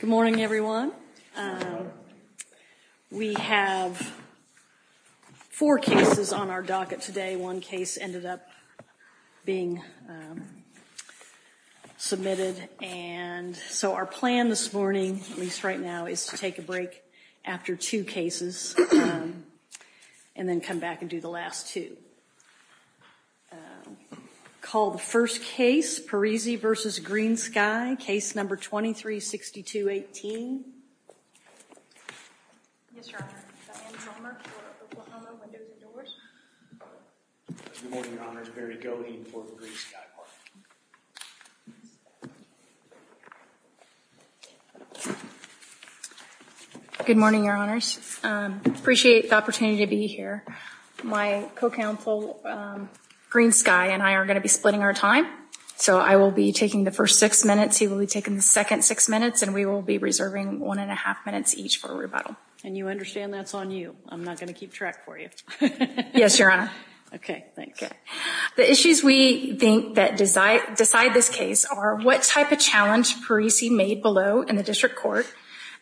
Good morning, everyone. We have four cases on our docket today. One case ended up being submitted and so our plan this morning, at least right now, is to take a break after two cases and then come back and do the last two. I'm going to call the first case, Parisi v. GreenSky, case number 236218. Yes, Your Honor. Diane Palmer for Oklahoma Windows and Doors. Good morning, Your Honors. Barry Goheen for the GreenSky plan. Good morning, Your Honors. I appreciate the opportunity to be here. My co-counsel, GreenSky, and I are going to be splitting our time, so I will be taking the first six minutes, he will be taking the second six minutes, and we will be reserving one and a half minutes each for rebuttal. And you understand that's on you. I'm not going to keep track for you. Yes, Your Honor. Okay, thanks. The issues we think that decide this case are what type of challenge Parisi made below in the district court,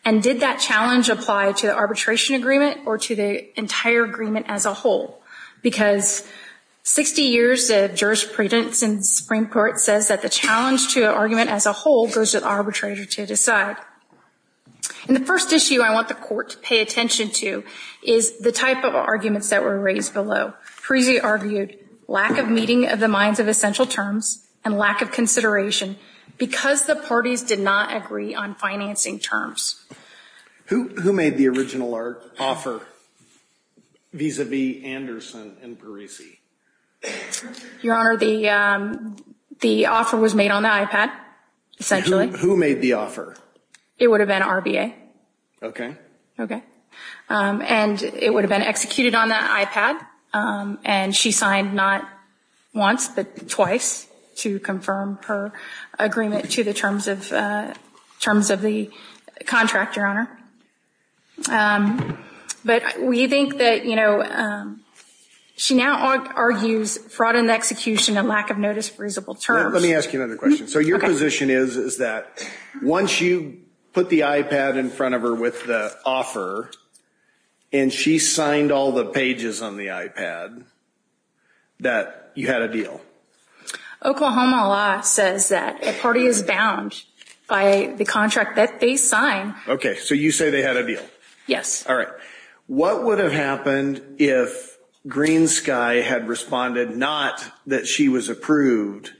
and did that challenge apply to the arbitration agreement or to the entire agreement as a whole? Because 60 years of jurisprudence in the Supreme Court says that the challenge to an argument as a whole goes to the arbitrator to decide. And the first issue I want the court to pay attention to is the type of arguments that were raised below. Parisi argued lack of meeting of the minds of essential terms and lack of consideration because the parties did not agree on financing terms. Who made the original offer vis-a-vis Anderson and Parisi? Your Honor, the offer was made on the IPAD, essentially. Who made the offer? It would have been RBA. Okay. And it would have been executed on that IPAD, and she signed not once but twice to confirm her agreement to the terms of the contract, Your Honor. But we think that, you know, she now argues fraud in the execution and lack of notice of reasonable terms. Let me ask you another question. Okay. Your position is, is that once you put the IPAD in front of her with the offer, and she signed all the pages on the IPAD, that you had a deal? Oklahoma law says that a party is bound by the contract that they sign. Okay. So you say they had a deal? Yes. All right. What would have happened if Green Sky had responded not that she was approved,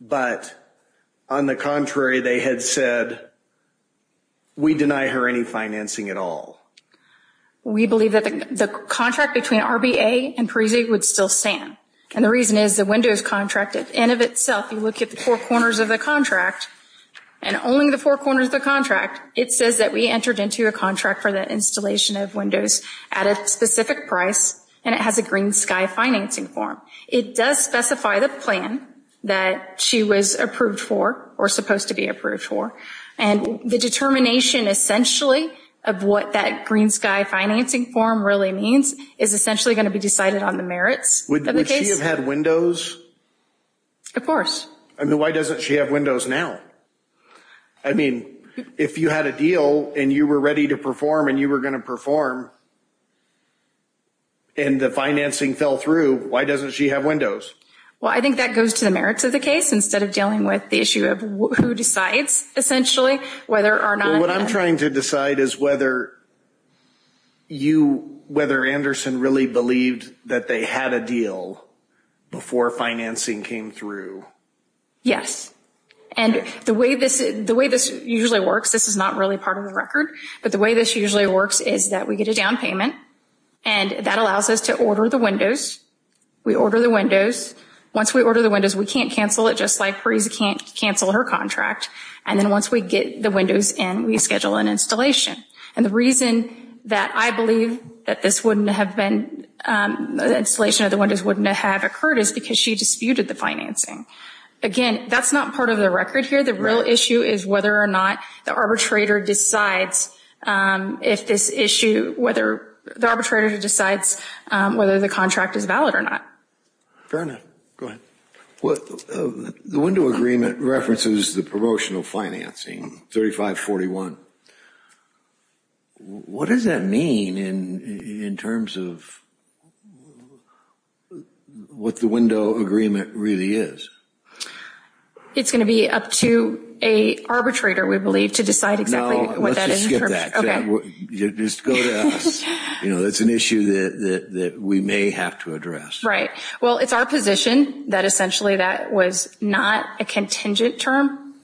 but on the contrary, they had said, we deny her any financing at all? We believe that the contract between RBA and Parisi would still stand. And the reason is the windows contract, in and of itself, you look at the four corners of the contract, and only the four corners of the contract, it says that we entered into a contract for the installation of windows at a specific price, and it has a Green Sky financing form. It does specify the plan that she was approved for, or supposed to be approved for. And the determination, essentially, of what that Green Sky financing form really means is essentially going to be decided on the merits of the case. Would she have had windows? Of course. I mean, why doesn't she have windows now? I mean, if you had a deal, and you were ready to perform, and you were going to perform, and the financing fell through, why doesn't she have windows? Well, I think that goes to the merits of the case, instead of dealing with the issue of who decides, essentially, whether or not- What I'm trying to decide is whether you, whether Anderson really believed that they had a deal before financing came through. Yes. And the way this usually works, this is not really part of the record, but the way this usually works is that we get a down payment, and that allows us to order the windows. We order the windows. Once we order the windows, we can't cancel it, just like Parise can't cancel her contract. And then once we get the windows in, we schedule an installation. And the reason that I believe that this wouldn't have been, the installation of the windows wouldn't have occurred is because she disputed the financing. Again, that's not part of the record here. The real issue is whether or not the arbitrator decides if this issue, whether the arbitrator decides whether the contract is valid or not. Fair enough. Go ahead. Well, the window agreement references the promotional financing, 3541. What does that mean in terms of what the window agreement really is? It's going to be up to an arbitrator, we believe, to decide exactly what that is. Let's just skip that. Just go to us. That's an issue that we may have to address. Right. Well, it's our position that essentially that was not a contingent term.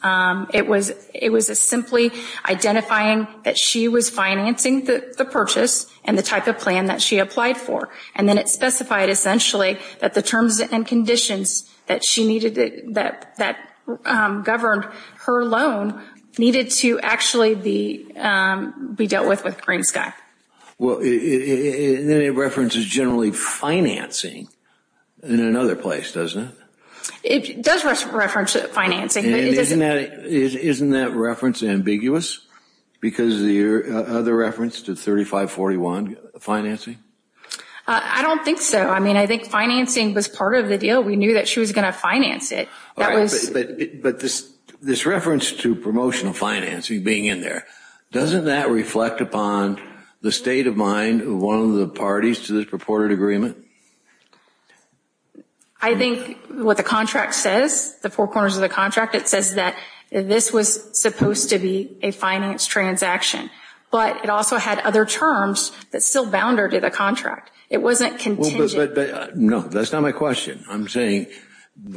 It was simply identifying that she was financing the purchase and the type of plan that she applied for. And then it specified essentially that the terms and conditions that she needed, that governed her loan, needed to actually be dealt with with Green Sky. Well, then it references generally financing in another place, doesn't it? It does reference financing. Isn't that reference ambiguous because of the other reference to 3541 financing? I don't think so. I mean, I think financing was part of the deal. We knew that she was going to finance it. But this reference to promotional financing being in there, doesn't that reflect upon the state of mind of one of the parties to this purported agreement? I think what the contract says, the four corners of the contract, it says that this was supposed to be a finance transaction. But it also had other terms that still bounded to the contract. It wasn't contingent. No, that's not my question. I'm saying,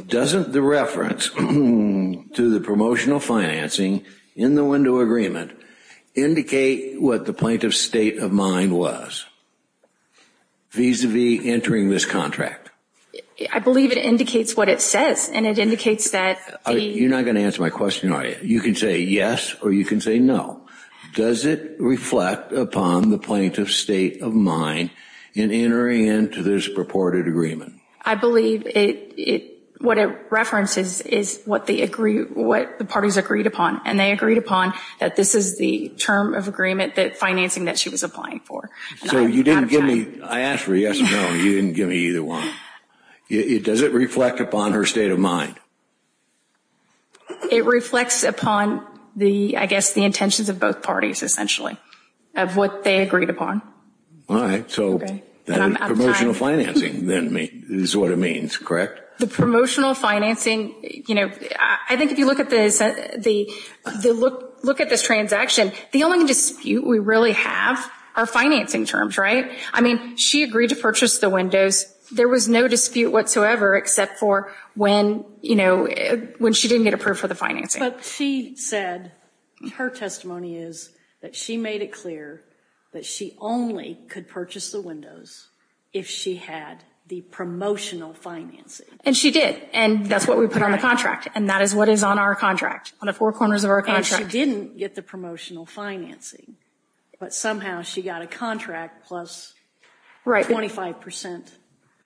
doesn't the reference to the promotional financing in the window agreement indicate what the plaintiff's state of mind was vis-a-vis entering this contract? I believe it indicates what it says. And it indicates that the... You're not going to answer my question, are you? You can say yes or you can say no. Does it reflect upon the plaintiff's state of mind in entering into this purported agreement? I believe what it references is what the parties agreed upon. And they agreed upon that this is the term of agreement that financing that she was applying for. So you didn't give me, I asked for a yes or no, and you didn't give me either one. Does it reflect upon her state of mind? It reflects upon the, I guess, the intentions of both parties, essentially, of what they agreed upon. All right. So promotional financing is what it means, correct? The promotional financing, you know, I think if you look at this, look at this transaction, the only dispute we really have are financing terms, right? I mean, she agreed to purchase the windows. There was no dispute whatsoever except for when, you know, when she didn't get approved for the financing. But she said, her testimony is that she made it clear that she only could purchase the if she had the promotional financing. And she did. And that's what we put on the contract, and that is what is on our contract, on the four corners of our contract. And she didn't get the promotional financing, but somehow she got a contract plus 25 percent.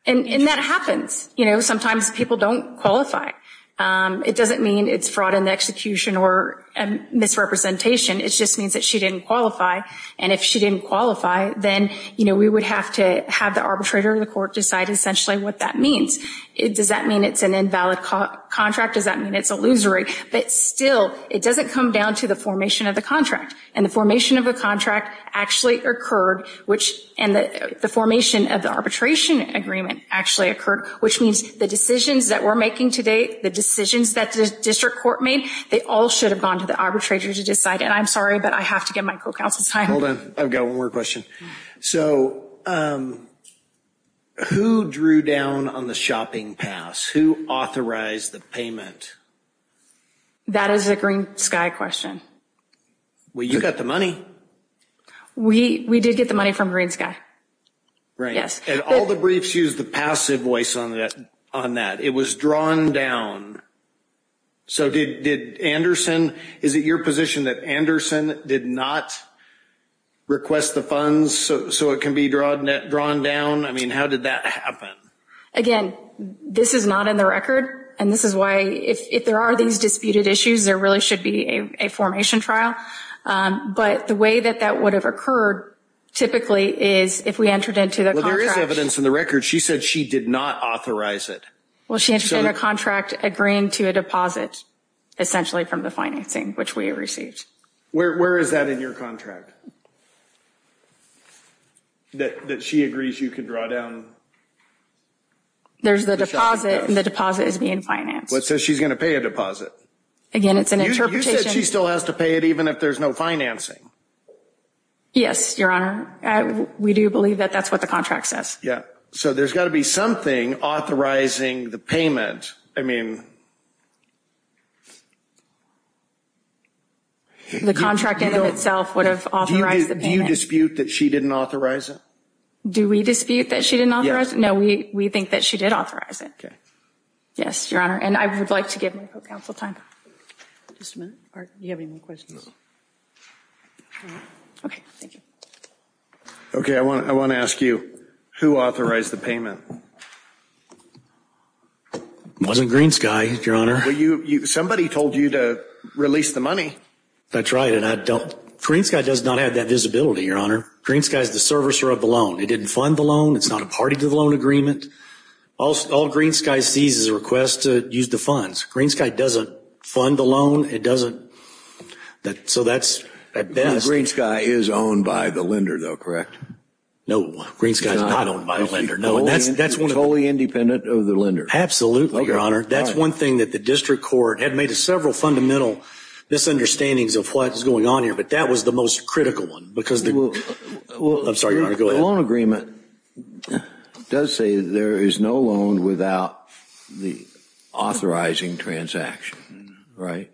And that happens. You know, sometimes people don't qualify. It doesn't mean it's fraud in the execution or misrepresentation. It just means that she didn't qualify. And if she didn't qualify, then, you know, we would have to have the arbitrator of the court decide essentially what that means. Does that mean it's an invalid contract? Does that mean it's illusory? But still, it doesn't come down to the formation of the contract. And the formation of a contract actually occurred, which, and the formation of the arbitration agreement actually occurred, which means the decisions that we're making today, the decisions that the district court made, they all should have gone to the arbitrator to decide. And I'm sorry, but I have to give my co-counsel time. I've got one more question. So, who drew down on the shopping pass? Who authorized the payment? That is a Green Sky question. Well, you got the money. We did get the money from Green Sky. Right. Yes. And all the briefs use the passive voice on that. It was drawn down. So, did Anderson, is it your position that Anderson did not request the funds so it can be drawn down? I mean, how did that happen? Again, this is not in the record, and this is why, if there are these disputed issues, there really should be a formation trial. But the way that that would have occurred typically is if we entered into the contract. Well, there is evidence in the record. She said she did not authorize it. Well, she entered into a contract agreeing to a deposit, essentially, from the financing, which we received. Where is that in your contract, that she agrees you can draw down the shopping pass? There's the deposit, and the deposit is being financed. Well, it says she's going to pay a deposit. Again, it's an interpretation. You said she still has to pay it even if there's no financing. Yes, Your Honor. We do believe that that's what the contract says. Yeah, so there's got to be something authorizing the payment. I mean... The contract in and of itself would have authorized the payment. Do you dispute that she didn't authorize it? Do we dispute that she didn't authorize it? No, we think that she did authorize it. Okay. Yes, Your Honor, and I would like to give my counsel time. Just a minute. Do you have any more questions? No. Okay, thank you. Okay, I want to ask you, who authorized the payment? It wasn't GreenSky, Your Honor. Somebody told you to release the money. That's right, and I don't... GreenSky does not have that visibility, Your Honor. GreenSky is the servicer of the loan. It didn't fund the loan. It's not a party to the loan agreement. All GreenSky sees is a request to use the funds. GreenSky doesn't fund the loan. It doesn't... GreenSky is owned by the lender, though, correct? No, GreenSky is not owned by the lender. It's wholly independent of the lender. Absolutely, Your Honor. That's one thing that the district court had made several fundamental misunderstandings of what is going on here, but that was the most critical one because... I'm sorry, Your Honor. Go ahead. The loan agreement does say there is no loan without the authorizing transaction, right?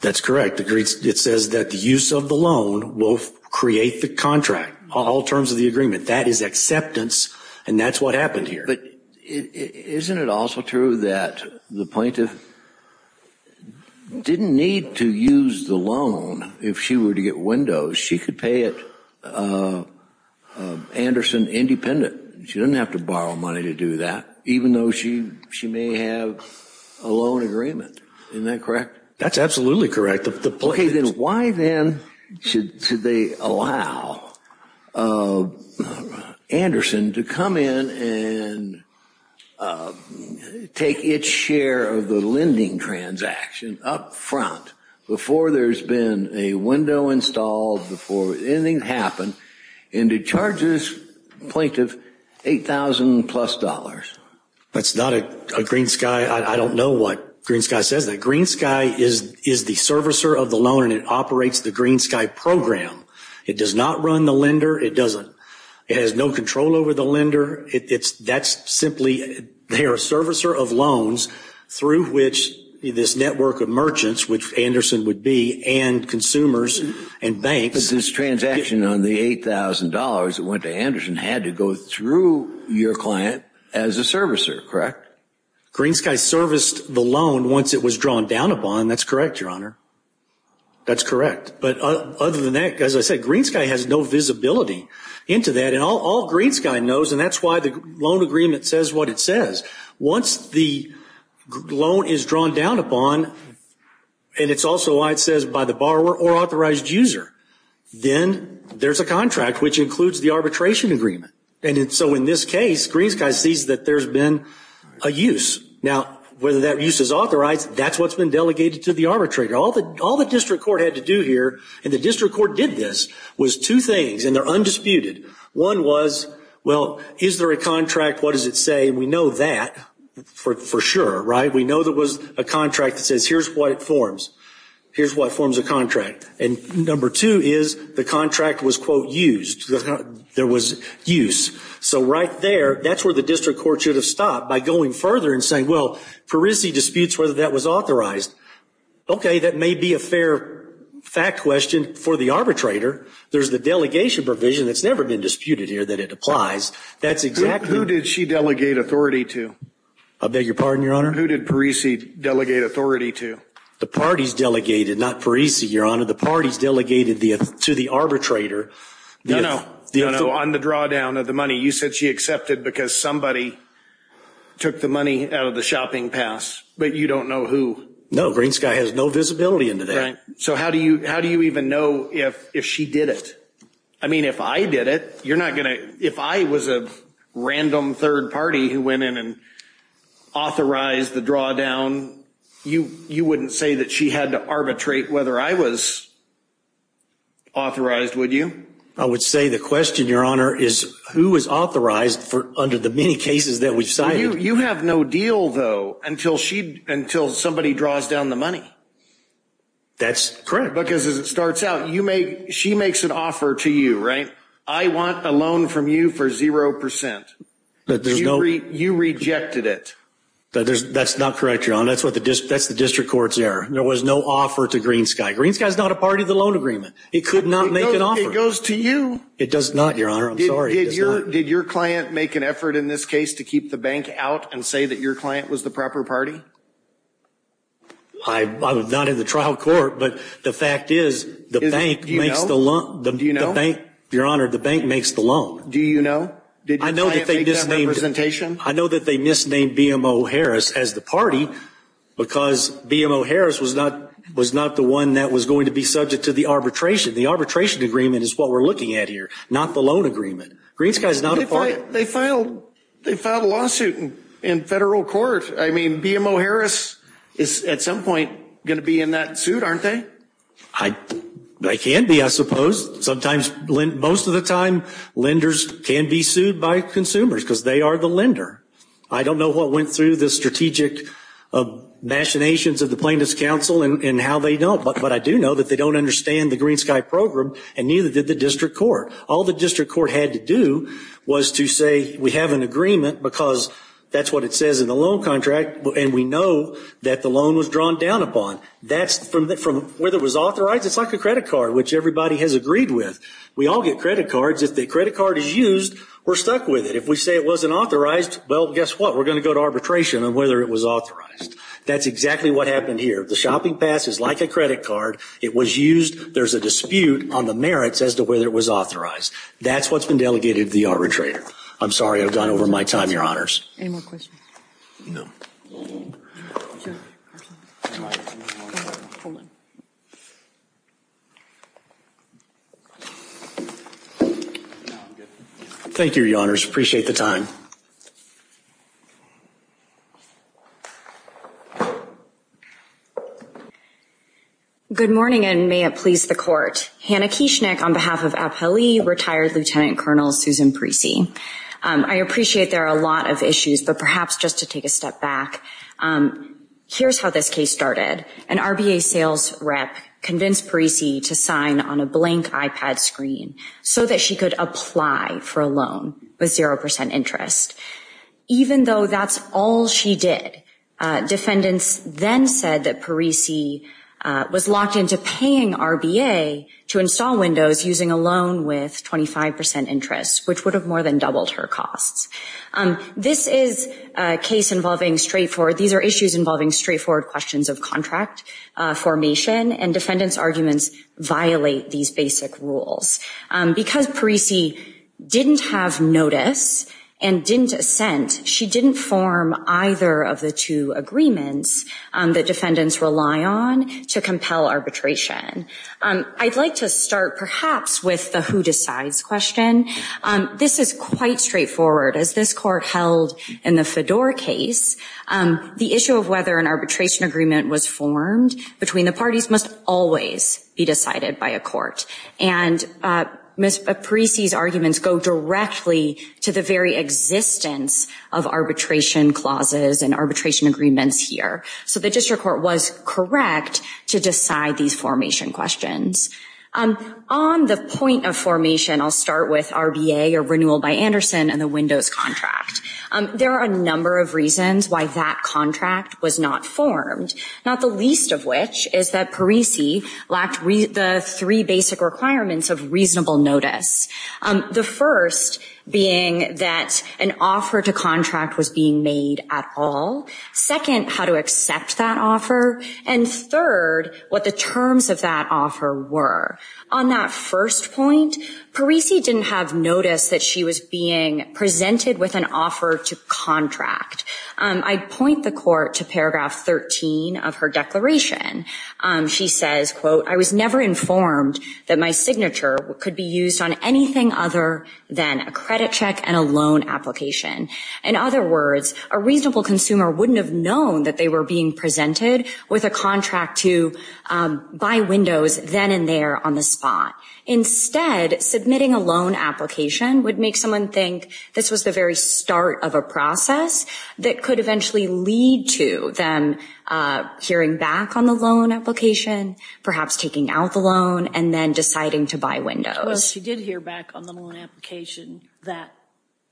That's correct. It says that the use of the loan will create the contract, all terms of the agreement. That is acceptance, and that's what happened here. But isn't it also true that the plaintiff didn't need to use the loan if she were to get windows? She could pay it Anderson independent. She doesn't have to borrow money to do that, even though she may have a loan agreement. Isn't that correct? That's absolutely correct. Okay, then why then should they allow Anderson to come in and take its share of the lending transaction up front before there's been a window installed, before anything happened, and to charge this plaintiff $8,000-plus? That's not a GreenSky. I don't know what GreenSky says. GreenSky is the servicer of the loan, and it operates the GreenSky program. It does not run the lender. It doesn't. It has no control over the lender. That's simply they are a servicer of loans through which this network of merchants, which Anderson would be, and consumers and banks. But this transaction on the $8,000 that went to Anderson had to go through your client as a servicer, correct? GreenSky serviced the loan once it was drawn down upon. That's correct, Your Honor. That's correct. But other than that, as I said, GreenSky has no visibility into that, and all GreenSky knows, and that's why the loan agreement says what it says. Once the loan is drawn down upon, and it's also why it says by the borrower or authorized user, then there's a contract which includes the arbitration agreement. And so in this case, GreenSky sees that there's been a use. Now, whether that use is authorized, that's what's been delegated to the arbitrator. All the district court had to do here, and the district court did this, was two things, and they're undisputed. One was, well, is there a contract? What does it say? We know that for sure, right? We know there was a contract that says here's what it forms. Here's what forms a contract. And number two is the contract was, quote, used. There was use. So right there, that's where the district court should have stopped, by going further and saying, well, Parisi disputes whether that was authorized. Okay, that may be a fair fact question for the arbitrator. There's the delegation provision that's never been disputed here that it applies. That's exactly the case. Who did she delegate authority to? I beg your pardon, Your Honor? Who did Parisi delegate authority to? The parties delegated, not Parisi, Your Honor. The parties delegated to the arbitrator. No, no. On the drawdown of the money. You said she accepted because somebody took the money out of the shopping pass, but you don't know who. No, Green Sky has no visibility into that. Right. So how do you even know if she did it? I mean, if I did it, you're not going to. If I was a random third party who went in and authorized the drawdown, you wouldn't say that she had to arbitrate whether I was authorized, would you? I would say the question, Your Honor, is who is authorized under the many cases that we've cited. You have no deal, though, until somebody draws down the money. That's correct. Because as it starts out, she makes an offer to you, right? I want a loan from you for 0%. But there's no. You rejected it. That's not correct, Your Honor. That's the district court's error. There was no offer to Green Sky. Green Sky is not a part of the loan agreement. It could not make an offer. It goes to you. It does not, Your Honor. I'm sorry. Did your client make an effort in this case to keep the bank out and say that your client was the proper party? I was not in the trial court, but the fact is the bank makes the loan. Do you know? Your Honor, the bank makes the loan. Do you know? Did your client make that representation? I know that they misnamed BMO Harris as the party because BMO Harris was not the one that was going to be subject to the arbitration. The arbitration agreement is what we're looking at here, not the loan agreement. Green Sky is not a party. They filed a lawsuit in federal court. I mean, BMO Harris is at some point going to be in that suit, aren't they? They can be, I suppose. Most of the time, lenders can be sued by consumers because they are the lender. I don't know what went through the strategic machinations of the plaintiff's counsel and how they don't, but I do know that they don't understand the Green Sky program and neither did the district court. All the district court had to do was to say, we have an agreement because that's what it says in the loan contract and we know that the loan was drawn down upon. Whether it was authorized, it's like a credit card, which everybody has agreed with. We all get credit cards. If the credit card is used, we're stuck with it. If we say it wasn't authorized, well, guess what? We're going to go to arbitration on whether it was authorized. That's exactly what happened here. The shopping pass is like a credit card. It was used. There's a dispute on the merits as to whether it was authorized. That's what's been delegated to the arbitrator. I'm sorry I've gone over my time, Your Honors. Any more questions? No. Hold on. Thank you, Your Honors. Appreciate the time. Good morning, and may it please the Court. Hannah Kieschnik on behalf of Abheli Retired Lieutenant Colonel Susan Preecey. I appreciate there are a lot of issues, but perhaps just to take a step back, here's how this case started. An RBA sales rep convinced Preecey to sign on a blank iPad screen so that she could apply for a loan with 0% interest. Even though that's all she did, defendants then said that Preecey was locked into paying RBA to install Windows using a loan with 25% interest, which would have more than doubled her costs. This is a case involving straightforward, these are issues involving straightforward questions of contract formation, and defendants' arguments violate these basic rules. Because Preecey didn't have notice and didn't assent, she didn't form either of the two agreements that defendants rely on to compel arbitration. I'd like to start perhaps with the who decides question. This is quite straightforward. As this court held in the Fedor case, the issue of whether an arbitration agreement was formed between the parties must always be decided by a court. And Ms. Preecey's arguments go directly to the very existence of arbitration clauses and arbitration agreements here. So the district court was correct to decide these formation questions. On the point of formation, I'll start with RBA, or renewal by Anderson, and the Windows contract. There are a number of reasons why that contract was not formed, not the least of which is that Preecey lacked the three basic requirements of reasonable notice. The first being that an offer to contract was being made at all. Second, how to accept that offer. And third, what the terms of that offer were. On that first point, Preecey didn't have notice that she was being presented with an offer to contract. I'd point the court to paragraph 13 of her declaration. She says, quote, I was never informed that my signature could be used on anything other than a credit check and a loan application. In other words, a reasonable consumer wouldn't have known that they were being presented with a contract to buy Windows then and there on the spot. Instead, submitting a loan application would make someone think this was the very start of a process that could eventually lead to them hearing back on the loan application, perhaps taking out the loan, and then deciding to buy Windows. Well, she did hear back on the loan application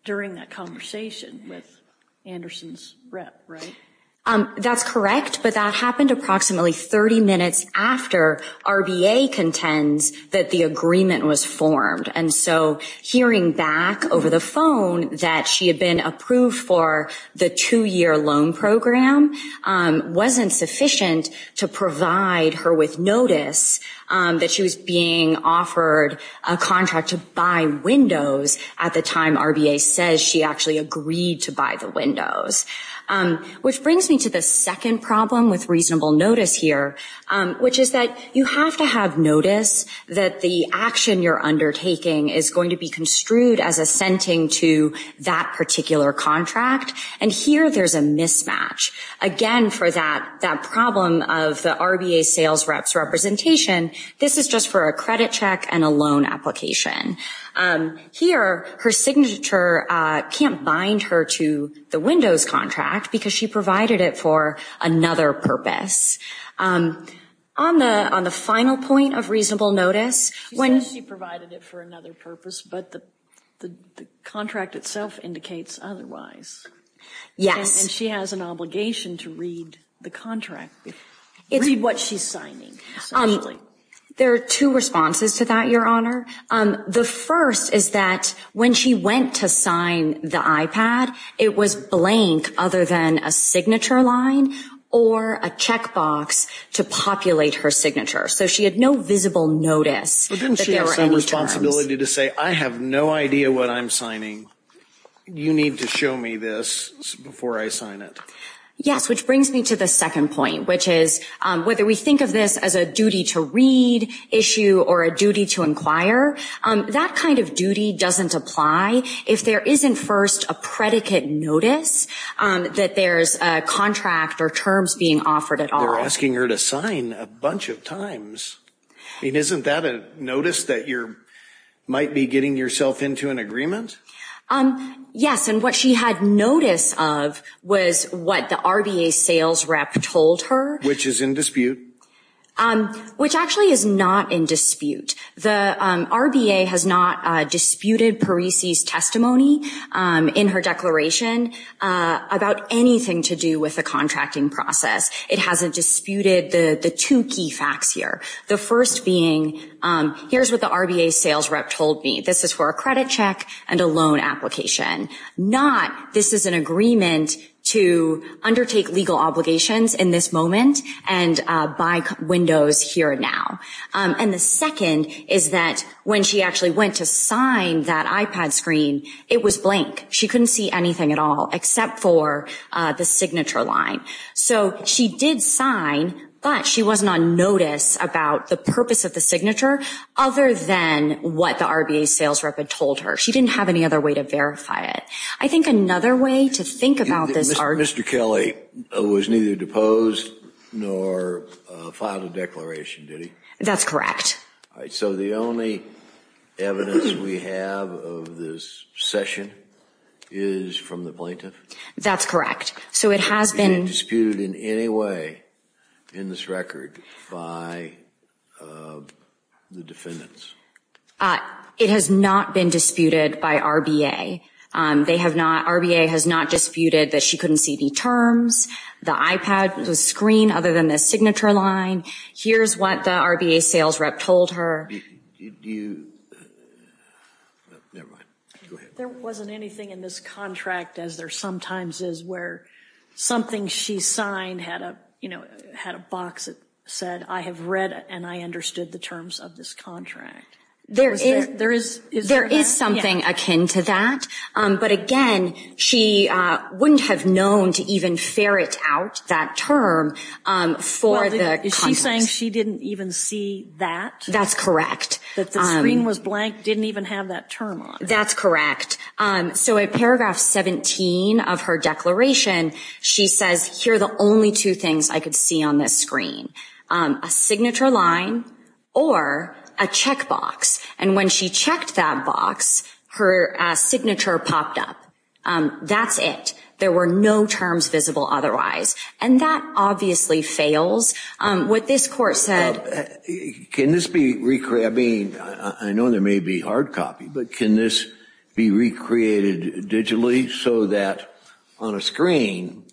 during that conversation with Anderson's rep, right? That's correct, but that happened approximately 30 minutes after RBA contends that the agreement was formed. And so hearing back over the phone that she had been approved for the two-year loan program wasn't sufficient to provide her with notice that she was being offered a contract to buy Windows at the time RBA says she actually agreed to buy the Windows. Which brings me to the second problem with reasonable notice here, which is that you have to have notice that the action you're undertaking is going to be construed as assenting to that particular contract. And here there's a mismatch. Again, for that problem of the RBA sales rep's representation, this is just for a credit check and a loan application. Here, her signature can't bind her to the Windows contract because she provided it for another purpose. On the final point of reasonable notice, when- She provided it for another purpose, but the contract itself indicates otherwise. Yes. And she has an obligation to read the contract, read what she's signing. There are two responses to that, Your Honor. The first is that when she went to sign the iPad, it was blank other than a signature line or a checkbox to populate her signature. So she had no visible notice that there were any terms. But didn't she have some responsibility to say, I have no idea what I'm signing. You need to show me this before I sign it. Yes, which brings me to the second point, which is whether we think of this as a duty to read issue or a duty to inquire, that kind of duty doesn't apply if there isn't first a predicate notice that there's a contract or terms being offered at all. Well, they're asking her to sign a bunch of times. I mean, isn't that a notice that you might be getting yourself into an agreement? Yes, and what she had notice of was what the RBA sales rep told her. Which is in dispute. Which actually is not in dispute. The RBA has not disputed Parisi's testimony in her declaration about anything to do with the contracting process. It hasn't disputed the two key facts here. The first being, here's what the RBA sales rep told me. This is for a credit check and a loan application. Not, this is an agreement to undertake legal obligations in this moment and buy windows here and now. And the second is that when she actually went to sign that iPad screen, it was blank. She couldn't see anything at all except for the signature line. So, she did sign, but she wasn't on notice about the purpose of the signature other than what the RBA sales rep had told her. She didn't have any other way to verify it. I think another way to think about this. Mr. Kelly was neither deposed nor filed a declaration, did he? That's correct. So, the only evidence we have of this session is from the plaintiff? That's correct. So, it has been. Is it disputed in any way in this record by the defendants? It has not been disputed by RBA. They have not, RBA has not disputed that she couldn't see the terms, the iPad screen other than the signature line. Here's what the RBA sales rep told her. Do you, never mind, go ahead. There wasn't anything in this contract, as there sometimes is, where something she signed had a box that said, I have read and I understood the terms of this contract. There is something akin to that, but again, she wouldn't have known to even ferret out that term for the context. Is she saying she didn't even see that? That's correct. That the screen was blank, didn't even have that term on it. That's correct. So, at paragraph 17 of her declaration, she says, here are the only two things I could see on this screen. A signature line or a check box. And when she checked that box, her signature popped up. That's it. There were no terms visible otherwise. And that obviously fails. What this court said. Can this be, I mean, I know there may be hard copy, but can this be recreated digitally so that on a screen,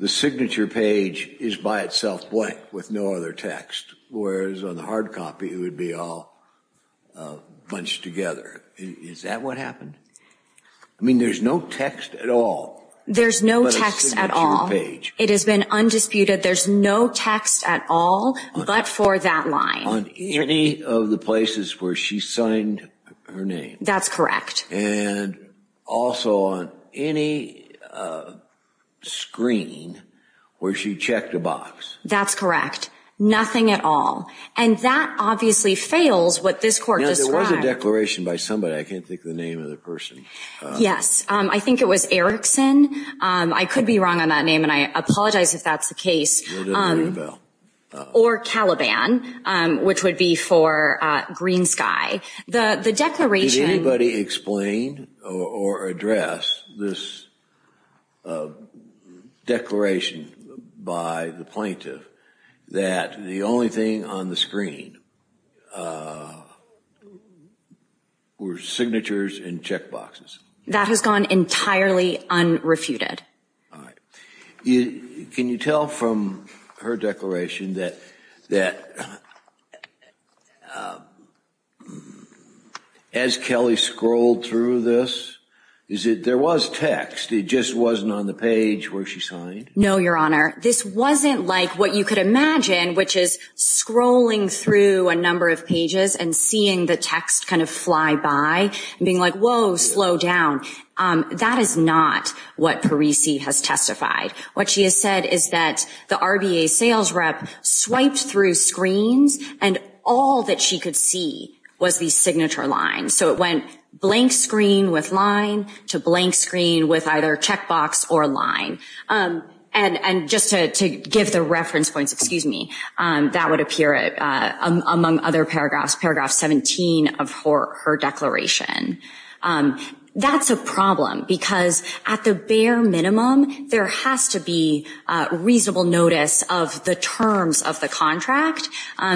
the signature page is by itself blank with no other text. Whereas on the hard copy, it would be all bunched together. Is that what happened? I mean, there's no text at all. There's no text at all. It has been undisputed. There's no text at all but for that line. On any of the places where she signed her name. That's correct. And also on any screen where she checked a box. That's correct. Nothing at all. And that obviously fails what this court described. There was a declaration by somebody. I can't think of the name of the person. Yes. I think it was Erickson. I could be wrong on that name and I apologize if that's the case. Or Caliban, which would be for Green Sky. The declaration. Did anybody explain or address this declaration by the plaintiff that the only thing on the screen were signatures and check boxes? That has gone entirely unrefuted. All right. Can you tell from her declaration that as Kelly scrolled through this, there was text. It just wasn't on the page where she signed? No, Your Honor. This wasn't like what you could imagine, which is scrolling through a number of pages and seeing the text kind of fly by. Being like, whoa, slow down. That is not what Parisi has testified. What she has said is that the RBA sales rep swiped through screens and all that she could see was the signature line. So it went blank screen with line to blank screen with either check box or line. And just to give the reference points, excuse me, that would appear among other paragraphs. Paragraph 17 of her declaration. That's a problem because at the bare minimum, there has to be reasonable notice of the terms of the contract.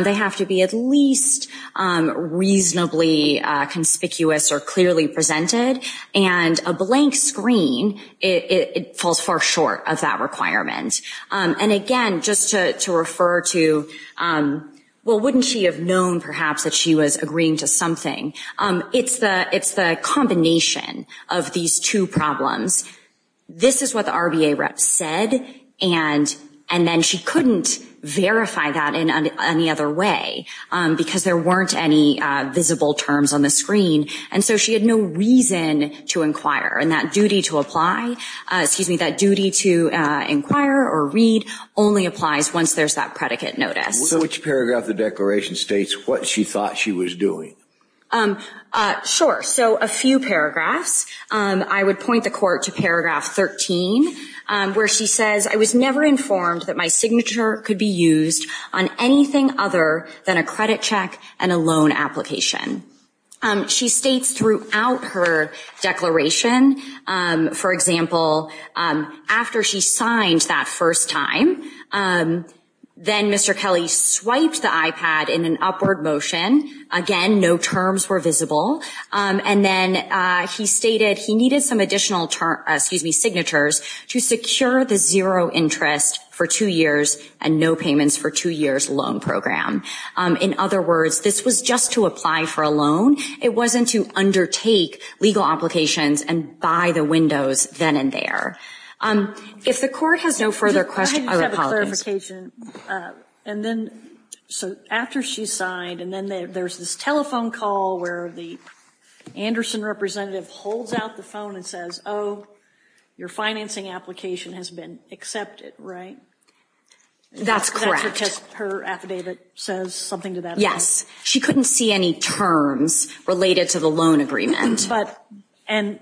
They have to be at least reasonably conspicuous or clearly presented. And a blank screen, it falls far short of that requirement. And, again, just to refer to, well, wouldn't she have known perhaps that she was agreeing to something? It's the combination of these two problems. This is what the RBA rep said, and then she couldn't verify that in any other way because there weren't any visible terms on the screen. And so she had no reason to inquire. And that duty to apply, excuse me, that duty to inquire or read only applies once there's that predicate notice. Which paragraph of the declaration states what she thought she was doing? Sure. So a few paragraphs. I would point the court to paragraph 13 where she says, I was never informed that my signature could be used on anything other than a credit check and a loan application. She states throughout her declaration, for example, after she signed that first time, then Mr. Kelly swiped the iPad in an upward motion. Again, no terms were visible. And then he stated he needed some additional, excuse me, signatures to secure the zero interest for two years and no payments for two years loan program. In other words, this was just to apply for a loan. It wasn't to undertake legal applications and buy the windows then and there. If the court has no further questions, I apologize. And then after she signed and then there's this telephone call where the Anderson representative holds out the phone and says, oh, your financing application has been accepted, right? That's correct. Her affidavit says something to that. Yes. She couldn't see any terms related to the loan agreement. But and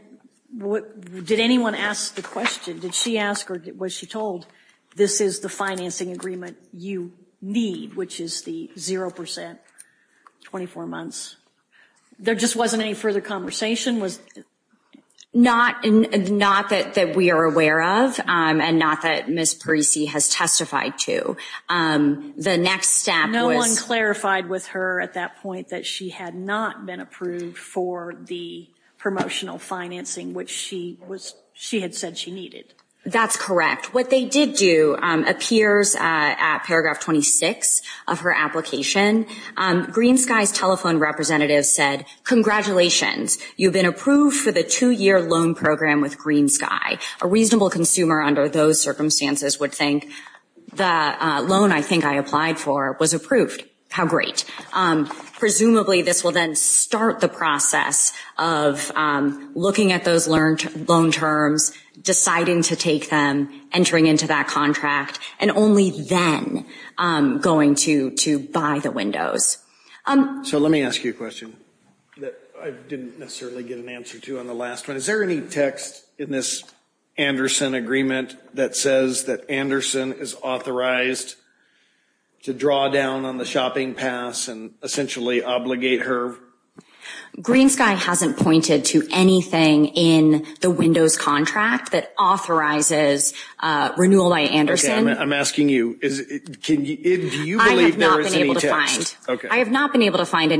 what did anyone ask the question? Did she ask or was she told this is the financing agreement you need, which is the zero percent, 24 months? There just wasn't any further conversation? Not that we are aware of and not that Ms. Parisi has testified to. The next step was. No one clarified with her at that point that she had not been approved for the promotional financing, which she had said she needed. That's correct. What they did do appears at paragraph 26 of her application. Green Sky's telephone representative said, congratulations, you've been approved for the two-year loan program with Green Sky. A reasonable consumer under those circumstances would think the loan I think I applied for was approved. How great. Presumably this will then start the process of looking at those loan terms, deciding to take them, entering into that contract, and only then going to buy the windows. So let me ask you a question that I didn't necessarily get an answer to on the last one. Is there any text in this Anderson agreement that says that Anderson is authorized to draw down on the shopping pass and essentially obligate her? Green Sky hasn't pointed to anything in the windows contract that authorizes renewal by Anderson. I'm asking you, do you believe there is any text? I have not been able to find. Okay.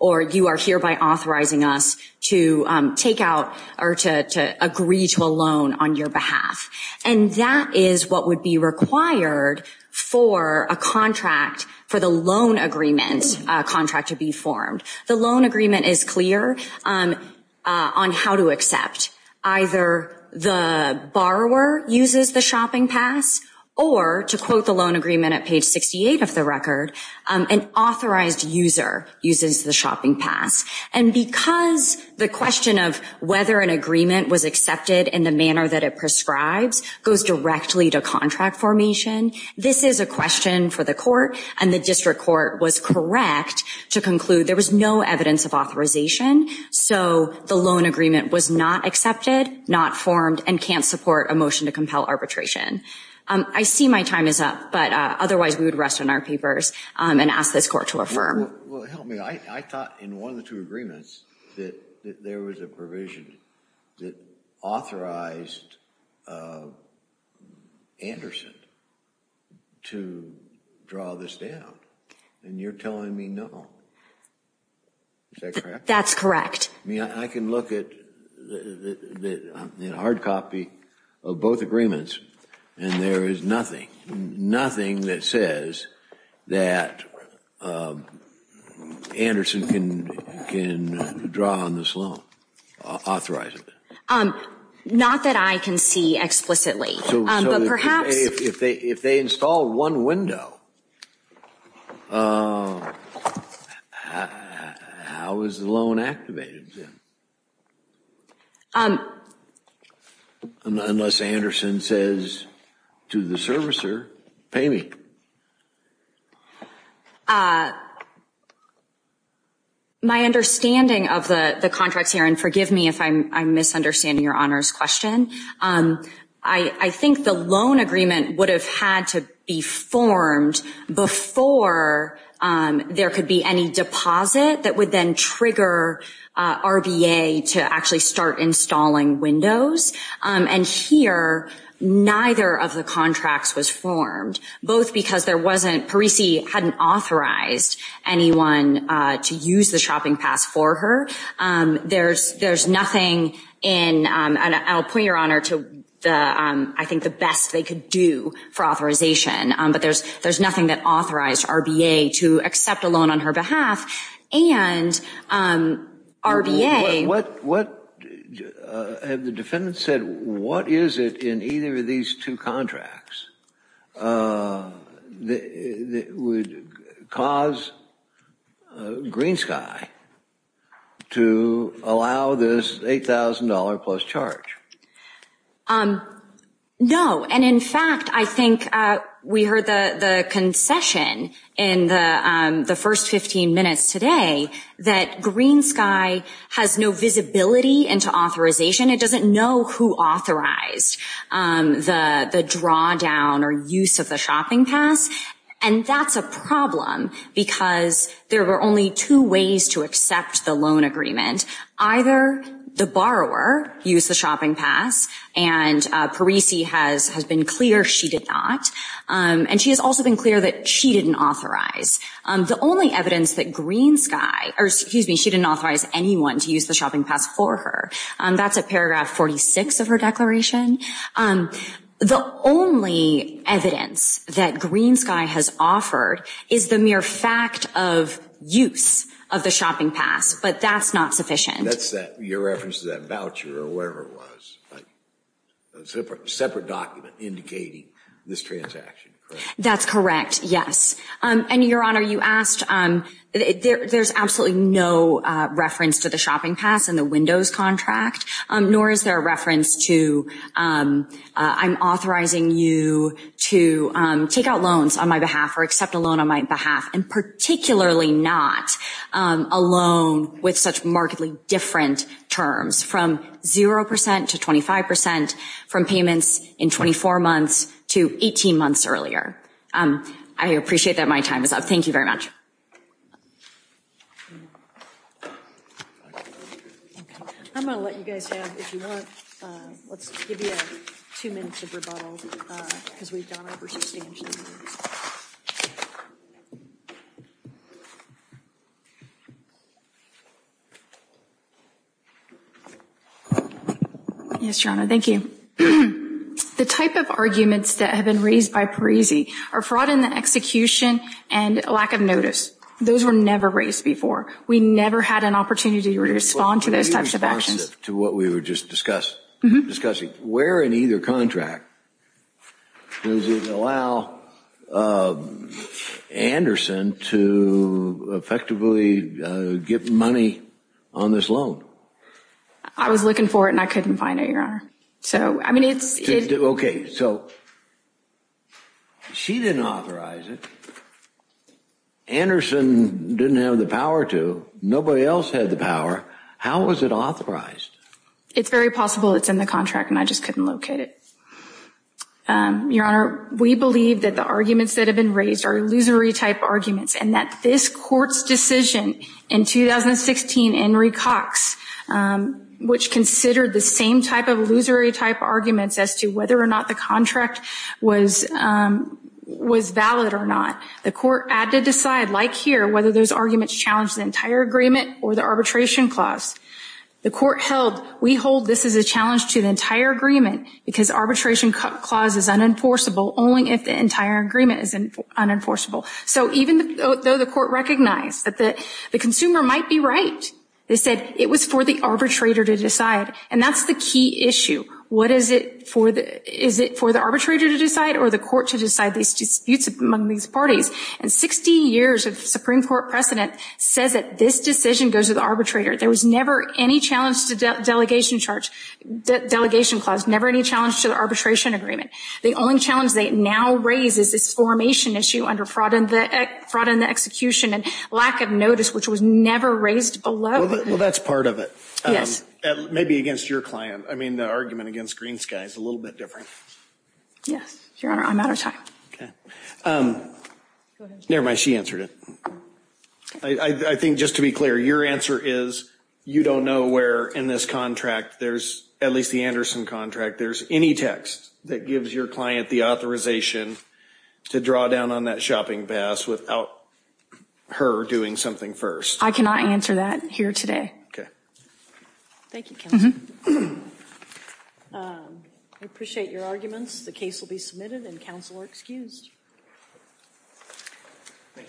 Or you are hereby authorizing us to take out or to agree to a loan on your behalf. And that is what would be required for a contract, for the loan agreement contract to be formed. The loan agreement is clear on how to accept. Either the borrower uses the shopping pass or, to quote the loan agreement at page 68 of the record, an authorized user uses the shopping pass. And because the question of whether an agreement was accepted in the manner that it prescribes goes directly to contract formation, this is a question for the court, and the district court was correct to conclude there was no evidence of authorization. So the loan agreement was not accepted, not formed, and can't support a motion to compel arbitration. I see my time is up, but otherwise we would rest on our papers and ask this court to affirm. Well, help me. I thought in one of the two agreements that there was a provision that authorized Anderson to draw this down. And you're telling me no. Is that correct? That's correct. I mean, I can look at the hard copy of both agreements, and there is nothing, nothing that says that Anderson can draw on this loan, authorize it. Not that I can see explicitly. So if they install one window, how is the loan activated then? Unless Anderson says to the servicer, pay me. My understanding of the contracts here, and forgive me if I'm misunderstanding your honors question, I think the loan agreement would have had to be formed before there could be any deposit that would then trigger RBA to actually start installing windows. And here, neither of the contracts was formed, both because there wasn't, Parisi hadn't authorized anyone to use the shopping pass for her. There's nothing in, and I'll point your honor to the, I think the best they could do for authorization, but there's nothing that authorized RBA to accept a loan on her behalf, and RBA. What, have the defendants said, what is it in either of these two contracts that would cause Green Sky to allow this $8,000 plus charge? No, and in fact, I think we heard the concession in the first 15 minutes today that Green Sky has no visibility into authorization. It doesn't know who authorized the drawdown or use of the shopping pass, and that's a problem because there were only two ways to accept the loan agreement. Either the borrower used the shopping pass, and Parisi has been clear she did not, and she has also been clear that she didn't authorize. The only evidence that Green Sky, or excuse me, she didn't authorize anyone to use the shopping pass for her. That's at paragraph 46 of her declaration. The only evidence that Green Sky has offered is the mere fact of use of the shopping pass, but that's not sufficient. That's that, your reference to that voucher or whatever it was. A separate document indicating this transaction, correct? That's correct, yes. And your honor, you asked, there's absolutely no reference to the shopping pass and the windows contract, nor is there a reference to I'm authorizing you to take out loans on my behalf or accept a loan on my behalf, and particularly not a loan with such markedly different terms from 0% to 25% from payments in 24 months to 18 months earlier. I appreciate that my time is up. Thank you very much. I'm going to let you guys have, if you want. Let's give you two minutes of rebuttal because we've gone over too much. Yes, your honor, thank you. The type of arguments that have been raised by Parisi are fraud in the execution and lack of notice. Those were never raised before. We never had an opportunity to respond to those types of actions. To what we were just discussing, where in either contract does it allow Anderson to effectively get money on this loan? I was looking for it and I couldn't find it, your honor. Okay, so she didn't authorize it. Anderson didn't have the power to. Nobody else had the power. How was it authorized? It's very possible it's in the contract and I just couldn't locate it. Your honor, we believe that the arguments that have been raised are illusory type arguments and that this court's decision in 2016, Henry Cox, which considered the same type of illusory type arguments as to whether or not the contract was valid or not. The court had to decide, like here, whether those arguments challenged the entire agreement or the arbitration clause. The court held, we hold this is a challenge to the entire agreement because arbitration clause is unenforceable only if the entire agreement is unenforceable. So even though the court recognized that the consumer might be right, they said it was for the arbitrator to decide and that's the key issue. Is it for the arbitrator to decide or the court to decide these disputes among these parties? And 60 years of Supreme Court precedent says that this decision goes to the arbitrator. There was never any challenge to the delegation clause, never any challenge to the arbitration agreement. The only challenge they now raise is this formation issue under fraud in the execution and lack of notice, which was never raised below. Well, that's part of it. Maybe against your client. I mean, the argument against Green Sky is a little bit different. Yes. Your honor, I'm out of time. Never mind, she answered it. I think just to be clear, your answer is you don't know where in this contract there's, at least the Anderson contract, there's any text that gives your client the authorization to draw down on that shopping pass without her doing something first. I cannot answer that here today. Okay. Thank you, counsel. I appreciate your arguments. The case will be submitted and counsel are excused. Thank you.